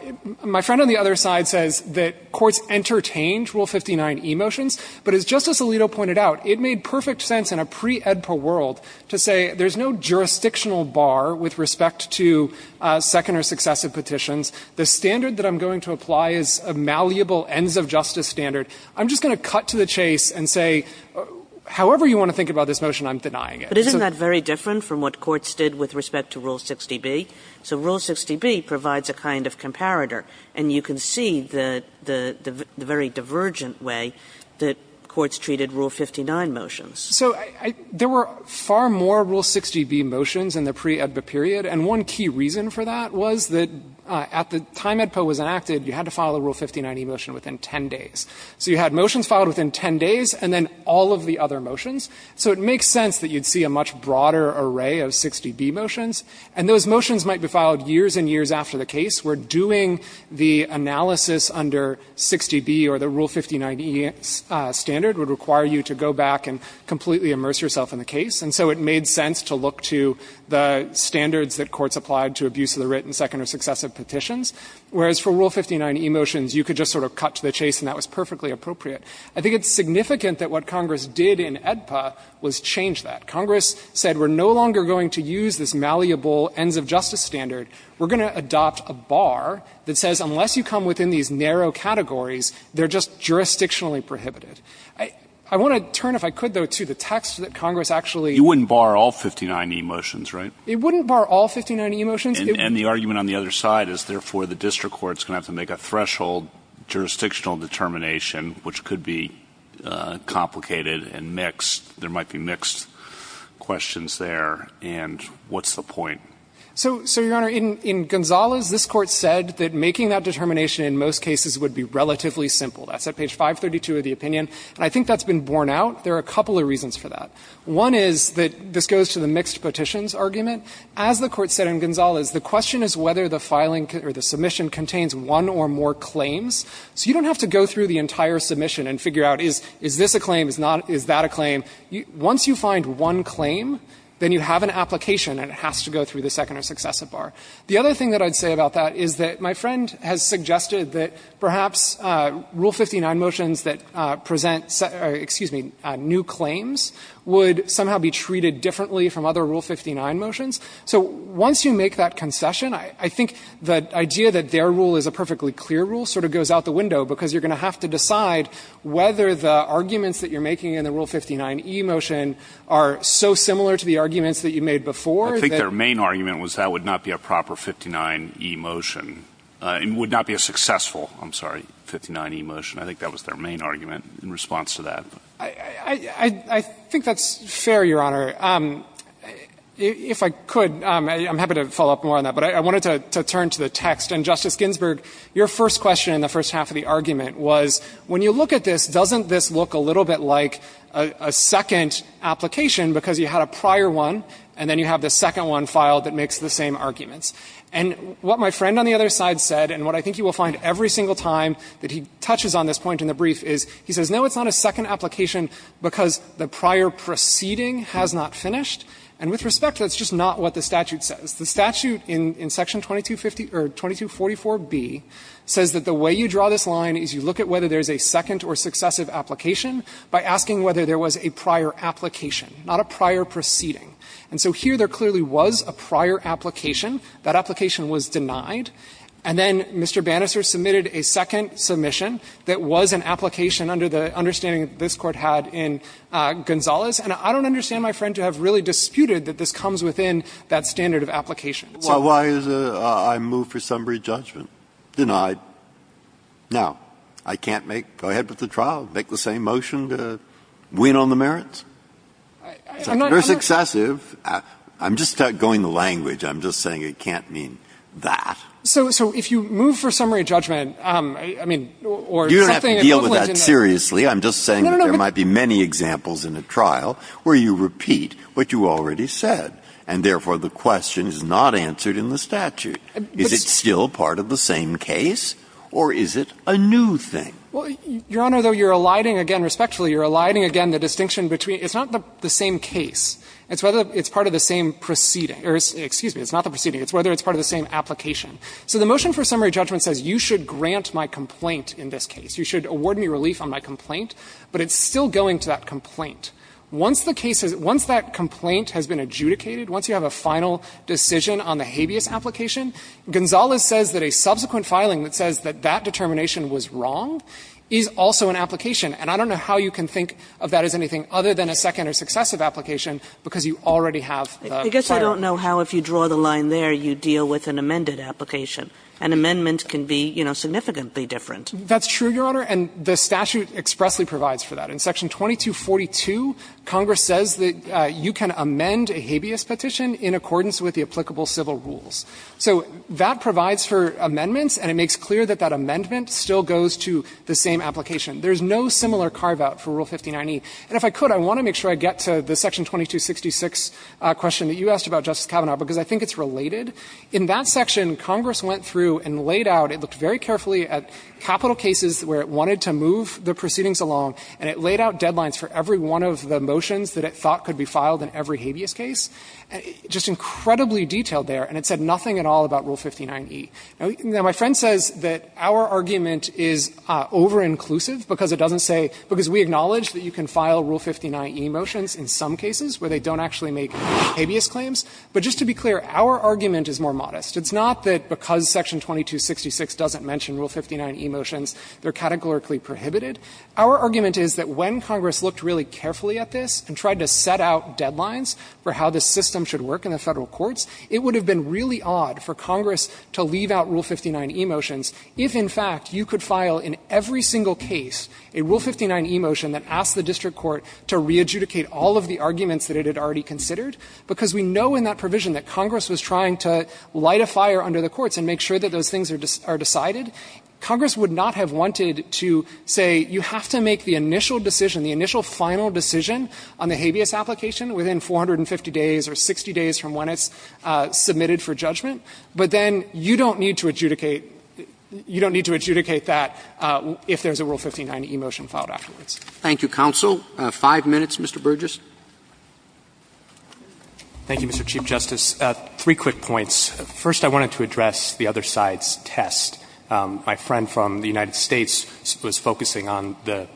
my friend on the other side says that courts entertained Rule 59e motions, but as Justice Alito pointed out, it made perfect sense in a pre-AEDPA world to say there's no jurisdictional bar with respect to second or successive petitions. The standard that I'm going to apply is a malleable ends-of-justice standard. I'm just going to cut to the chase and say, however you want to think about this motion, I'm denying it. But isn't that very different from what courts did with respect to Rule 60b? So Rule 60b provides a kind of comparator. And you can see the very divergent way that courts treated Rule 59 motions. So there were far more Rule 60b motions in the pre-AEDPA period, and one key reason for that was that at the time AEDPA was enacted, you had to file a Rule 59e motion within 10 days. So you had motions filed within 10 days, and then all of the other motions. So it makes sense that you'd see a much broader array of 60b motions. And those motions might be filed years and years after the case, where doing the analysis under 60b or the Rule 59e standard would require you to go back and comply completely immerse yourself in the case, and so it made sense to look to the standards that courts applied to abuse of the written second or successive petitions, whereas for Rule 59e motions, you could just sort of cut to the chase and that was perfectly appropriate. I think it's significant that what Congress did in AEDPA was change that. Congress said we're no longer going to use this malleable ends-of-justice standard. We're going to adopt a bar that says unless you come within these narrow categories, they're just jurisdictionally prohibited. I want to turn, if I could, though, to the text that Congress actually ---- You wouldn't bar all 59e motions, right? It wouldn't bar all 59e motions. And the argument on the other side is, therefore, the district court is going to have to make a threshold jurisdictional determination, which could be complicated and mixed. There might be mixed questions there, and what's the point? So, Your Honor, in Gonzales, this Court said that making that determination in most cases would be relatively simple. That's at page 532 of the opinion, and I think that's been borne out. There are a couple of reasons for that. One is that this goes to the mixed petitions argument. As the Court said in Gonzales, the question is whether the filing or the submission contains one or more claims. So you don't have to go through the entire submission and figure out is this a claim, is that a claim? Once you find one claim, then you have an application and it has to go through the second or successive bar. The other thing that I'd say about that is that my friend has suggested that perhaps Rule 59 motions that present, excuse me, new claims would somehow be treated differently from other Rule 59 motions. So once you make that concession, I think the idea that their rule is a perfectly clear rule sort of goes out the window, because you're going to have to decide whether the arguments that you're making in the Rule 59e motion are so similar to the arguments that you made before. I think their main argument was that would not be a proper 59e motion. It would not be a successful, I'm sorry, 59e motion. I think that was their main argument in response to that. I think that's fair, Your Honor. If I could, I'm happy to follow up more on that, but I wanted to turn to the text. And Justice Ginsburg, your first question in the first half of the argument was when you look at this, doesn't this look a little bit like a second application, because you had a prior one, and then you have the second one filed that makes the same arguments? And what my friend on the other side said, and what I think you will find every single time that he touches on this point in the brief, is he says, no, it's not a second application because the prior proceeding has not finished. And with respect, that's just not what the statute says. The statute in Section 2250 or 2244b says that the way you draw this line is you look at whether there's a second or successive application by asking whether there was a prior application, not a prior proceeding. And so here, there clearly was a prior application. That application was denied. And then Mr. Bannister submitted a second submission that was an application under the understanding that this Court had in Gonzales. And I don't understand, my friend, to have really disputed that this comes within that standard of application. So why is a move for summary judgment denied? Now, I can't make, go ahead with the trial, make the same motion to win on the merits? It's a second or successive. I'm just going the language. I'm just saying it can't mean that. So if you move for summary judgment, I mean, or something equivalent to that. You don't have to deal with that seriously. I'm just saying that there might be many examples in a trial where you repeat what you already said, and therefore the question is not answered in the statute. Is it still part of the same case? Or is it a new thing? Fisherman, Your Honor, though, you're eliding again, respectfully, you're eliding again the distinction between, it's not the same case. It's whether it's part of the same proceeding, or excuse me, it's not the proceeding. It's whether it's part of the same application. So the motion for summary judgment says you should grant my complaint in this case. You should award me relief on my complaint. But it's still going to that complaint. Once the case is, once that complaint has been adjudicated, once you have a final decision on the habeas application, Gonzales says that a subsequent filing that says that that determination was wrong is also an application. And I don't know how you can think of that as anything other than a second or successive application, because you already have the prior. Kagan, I guess I don't know how, if you draw the line there, you deal with an amended application. An amendment can be, you know, significantly different. Fisherman, That's true, Your Honor, and the statute expressly provides for that. In Section 2242, Congress says that you can amend a habeas petition in accordance with the applicable civil rules. So that provides for amendments, and it makes clear that that amendment still goes to the same application. There's no similar carve-out for Rule 159E. And if I could, I want to make sure I get to the Section 2266 question that you asked about, Justice Kavanaugh, because I think it's related. In that section, Congress went through and laid out, it looked very carefully at capital cases where it wanted to move the proceedings along, and it laid out deadlines for every one of the motions that it thought could be filed in every habeas case. Just incredibly detailed there, and it said nothing at all about Rule 159E. Now, my friend says that our argument is over-inclusive because it doesn't say — because we acknowledge that you can file Rule 159E motions in some cases where they don't actually make habeas claims. But just to be clear, our argument is more modest. It's not that because Section 2266 doesn't mention Rule 159E motions, they're categorically prohibited. Our argument is that when Congress looked really carefully at this and tried to set out deadlines for how the system should work in the Federal courts, it would have been really odd for Congress to leave out Rule 159E motions if, in fact, you could file in every single case a Rule 159E motion that asked the district court to re-adjudicate all of the arguments that it had already considered, because we know in that provision that Congress was trying to light a fire under the courts and make sure that those things are decided. Congress would not have wanted to say you have to make the initial decision, the initial final decision on the habeas application within 450 days or 60 days from when it's submitted for judgment, but then you don't need to adjudicate — you don't need to adjudicate that if there's a Rule 159E motion filed afterwards. Roberts. Thank you, counsel. Five minutes, Mr. Burgess. Thank you, Mr. Chief Justice. Three quick points. First, I wanted to address the other side's test. My friend from the United States was focusing on the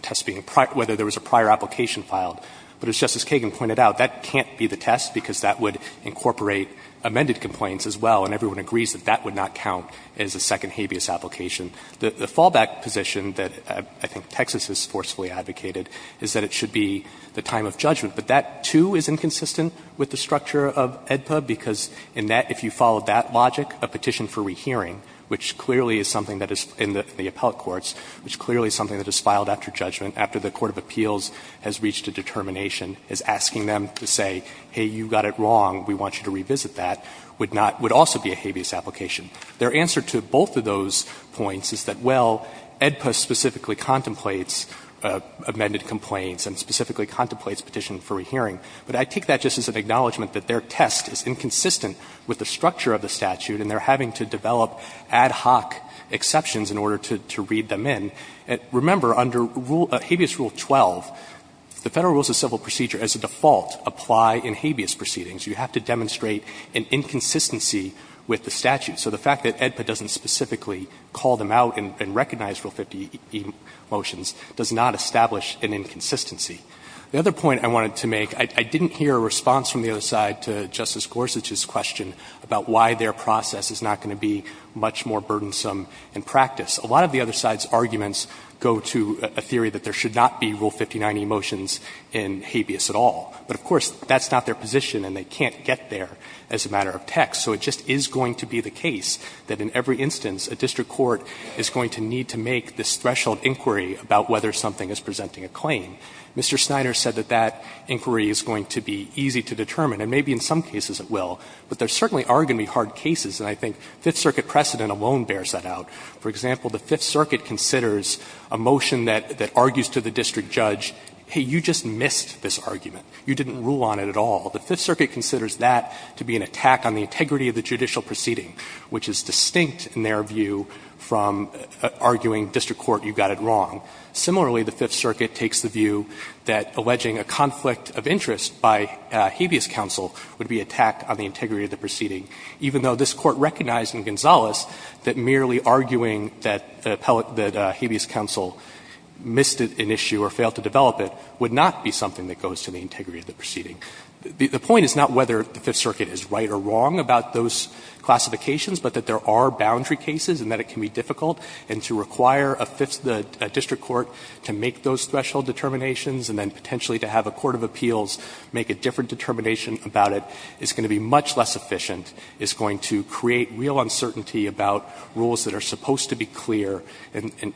test being prior — whether there was a prior application filed. But as Justice Kagan pointed out, that can't be the test, because that would incorporate amended complaints as well, and everyone agrees that that would not count as a second habeas application. The fallback position that I think Texas has forcefully advocated is that it should be the time of judgment. But that, too, is inconsistent with the structure of AEDPA, because in that, if you follow that logic, a petition for rehearing, which clearly is something that is in the appellate courts, which clearly is something that is filed after judgment, after the court of appeals has reached a determination, is asking them to say, hey, you got it wrong, we want you to revisit that, would not — would also be a habeas application. Their answer to both of those points is that, well, AEDPA specifically contemplates amended complaints and specifically contemplates petition for rehearing, but I take that just as an acknowledgment that their test is inconsistent with the structure of the statute, and they're having to develop ad hoc exceptions in order to read them in. Remember, under rule — habeas rule 12, the Federal Rules of Civil Procedure as a default apply in habeas proceedings. You have to demonstrate an inconsistency with the statute. So the fact that AEDPA doesn't specifically call them out and recognize Rule 50E motions does not establish an inconsistency. The other point I wanted to make, I didn't hear a response from the other side to Justice Gorsuch's question about why their process is not going to be much more burdensome in practice. A lot of the other side's arguments go to a theory that there should not be Rule 59E motions in habeas at all. But, of course, that's not their position and they can't get there as a matter of text. So it just is going to be the case that in every instance a district court is going to need to make this threshold inquiry about whether something is presenting a claim. Mr. Snyder said that that inquiry is going to be easy to determine, and maybe in some cases it will. But there certainly are going to be hard cases, and I think Fifth Circuit precedent alone bears that out. For example, the Fifth Circuit considers a motion that argues to the district judge, hey, you just missed this argument. You didn't rule on it at all. The Fifth Circuit considers that to be an attack on the integrity of the judicial proceeding, which is distinct in their view from arguing district court, you got it wrong. Similarly, the Fifth Circuit takes the view that alleging a conflict of interest by habeas counsel would be an attack on the integrity of the proceeding, even though this Court recognized in Gonzales that merely arguing that habeas counsel missed an issue or failed to develop it would not be something that goes to the integrity of the proceeding. The point is not whether the Fifth Circuit is right or wrong about those classifications, but that there are boundary cases and that it can be difficult. And to require a district court to make those threshold determinations and then potentially to have a court of appeals make a different determination about it is going to be much less efficient. It's going to create real uncertainty about rules that are supposed to be clear and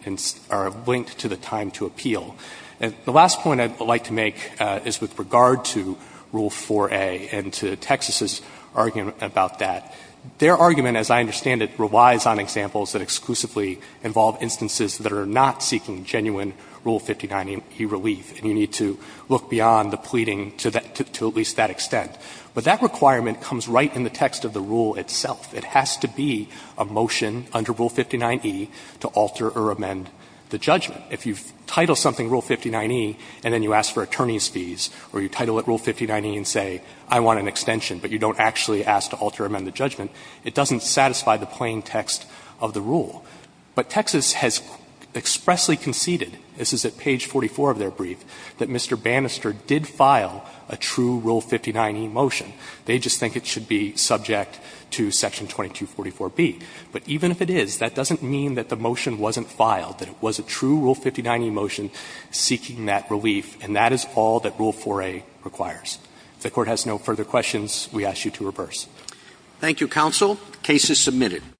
are linked to the time to appeal. The last point I would like to make is with regard to Rule 4a and to Texas's argument about that. Their argument, as I understand it, relies on examples that exclusively involve instances that are not seeking genuine Rule 59e relief. And you need to look beyond the pleading to that to at least that extent. But that requirement comes right in the text of the rule itself. It has to be a motion under Rule 59e to alter or amend the judgment. If you've titled something Rule 59e and then you ask for attorney's fees or you title it Rule 59e and say I want an extension, but you don't actually ask to alter or amend the judgment, it doesn't satisfy the plain text of the rule. But Texas has expressly conceded, this is at page 44 of their brief, that Mr. Bannister did file a true Rule 59e motion. They just think it should be subject to section 2244b. But even if it is, that doesn't mean that the motion wasn't filed, that it was a true Rule 59e motion seeking that relief, and that is all that Rule 4a requires. Thank you, counsel. Case is submitted.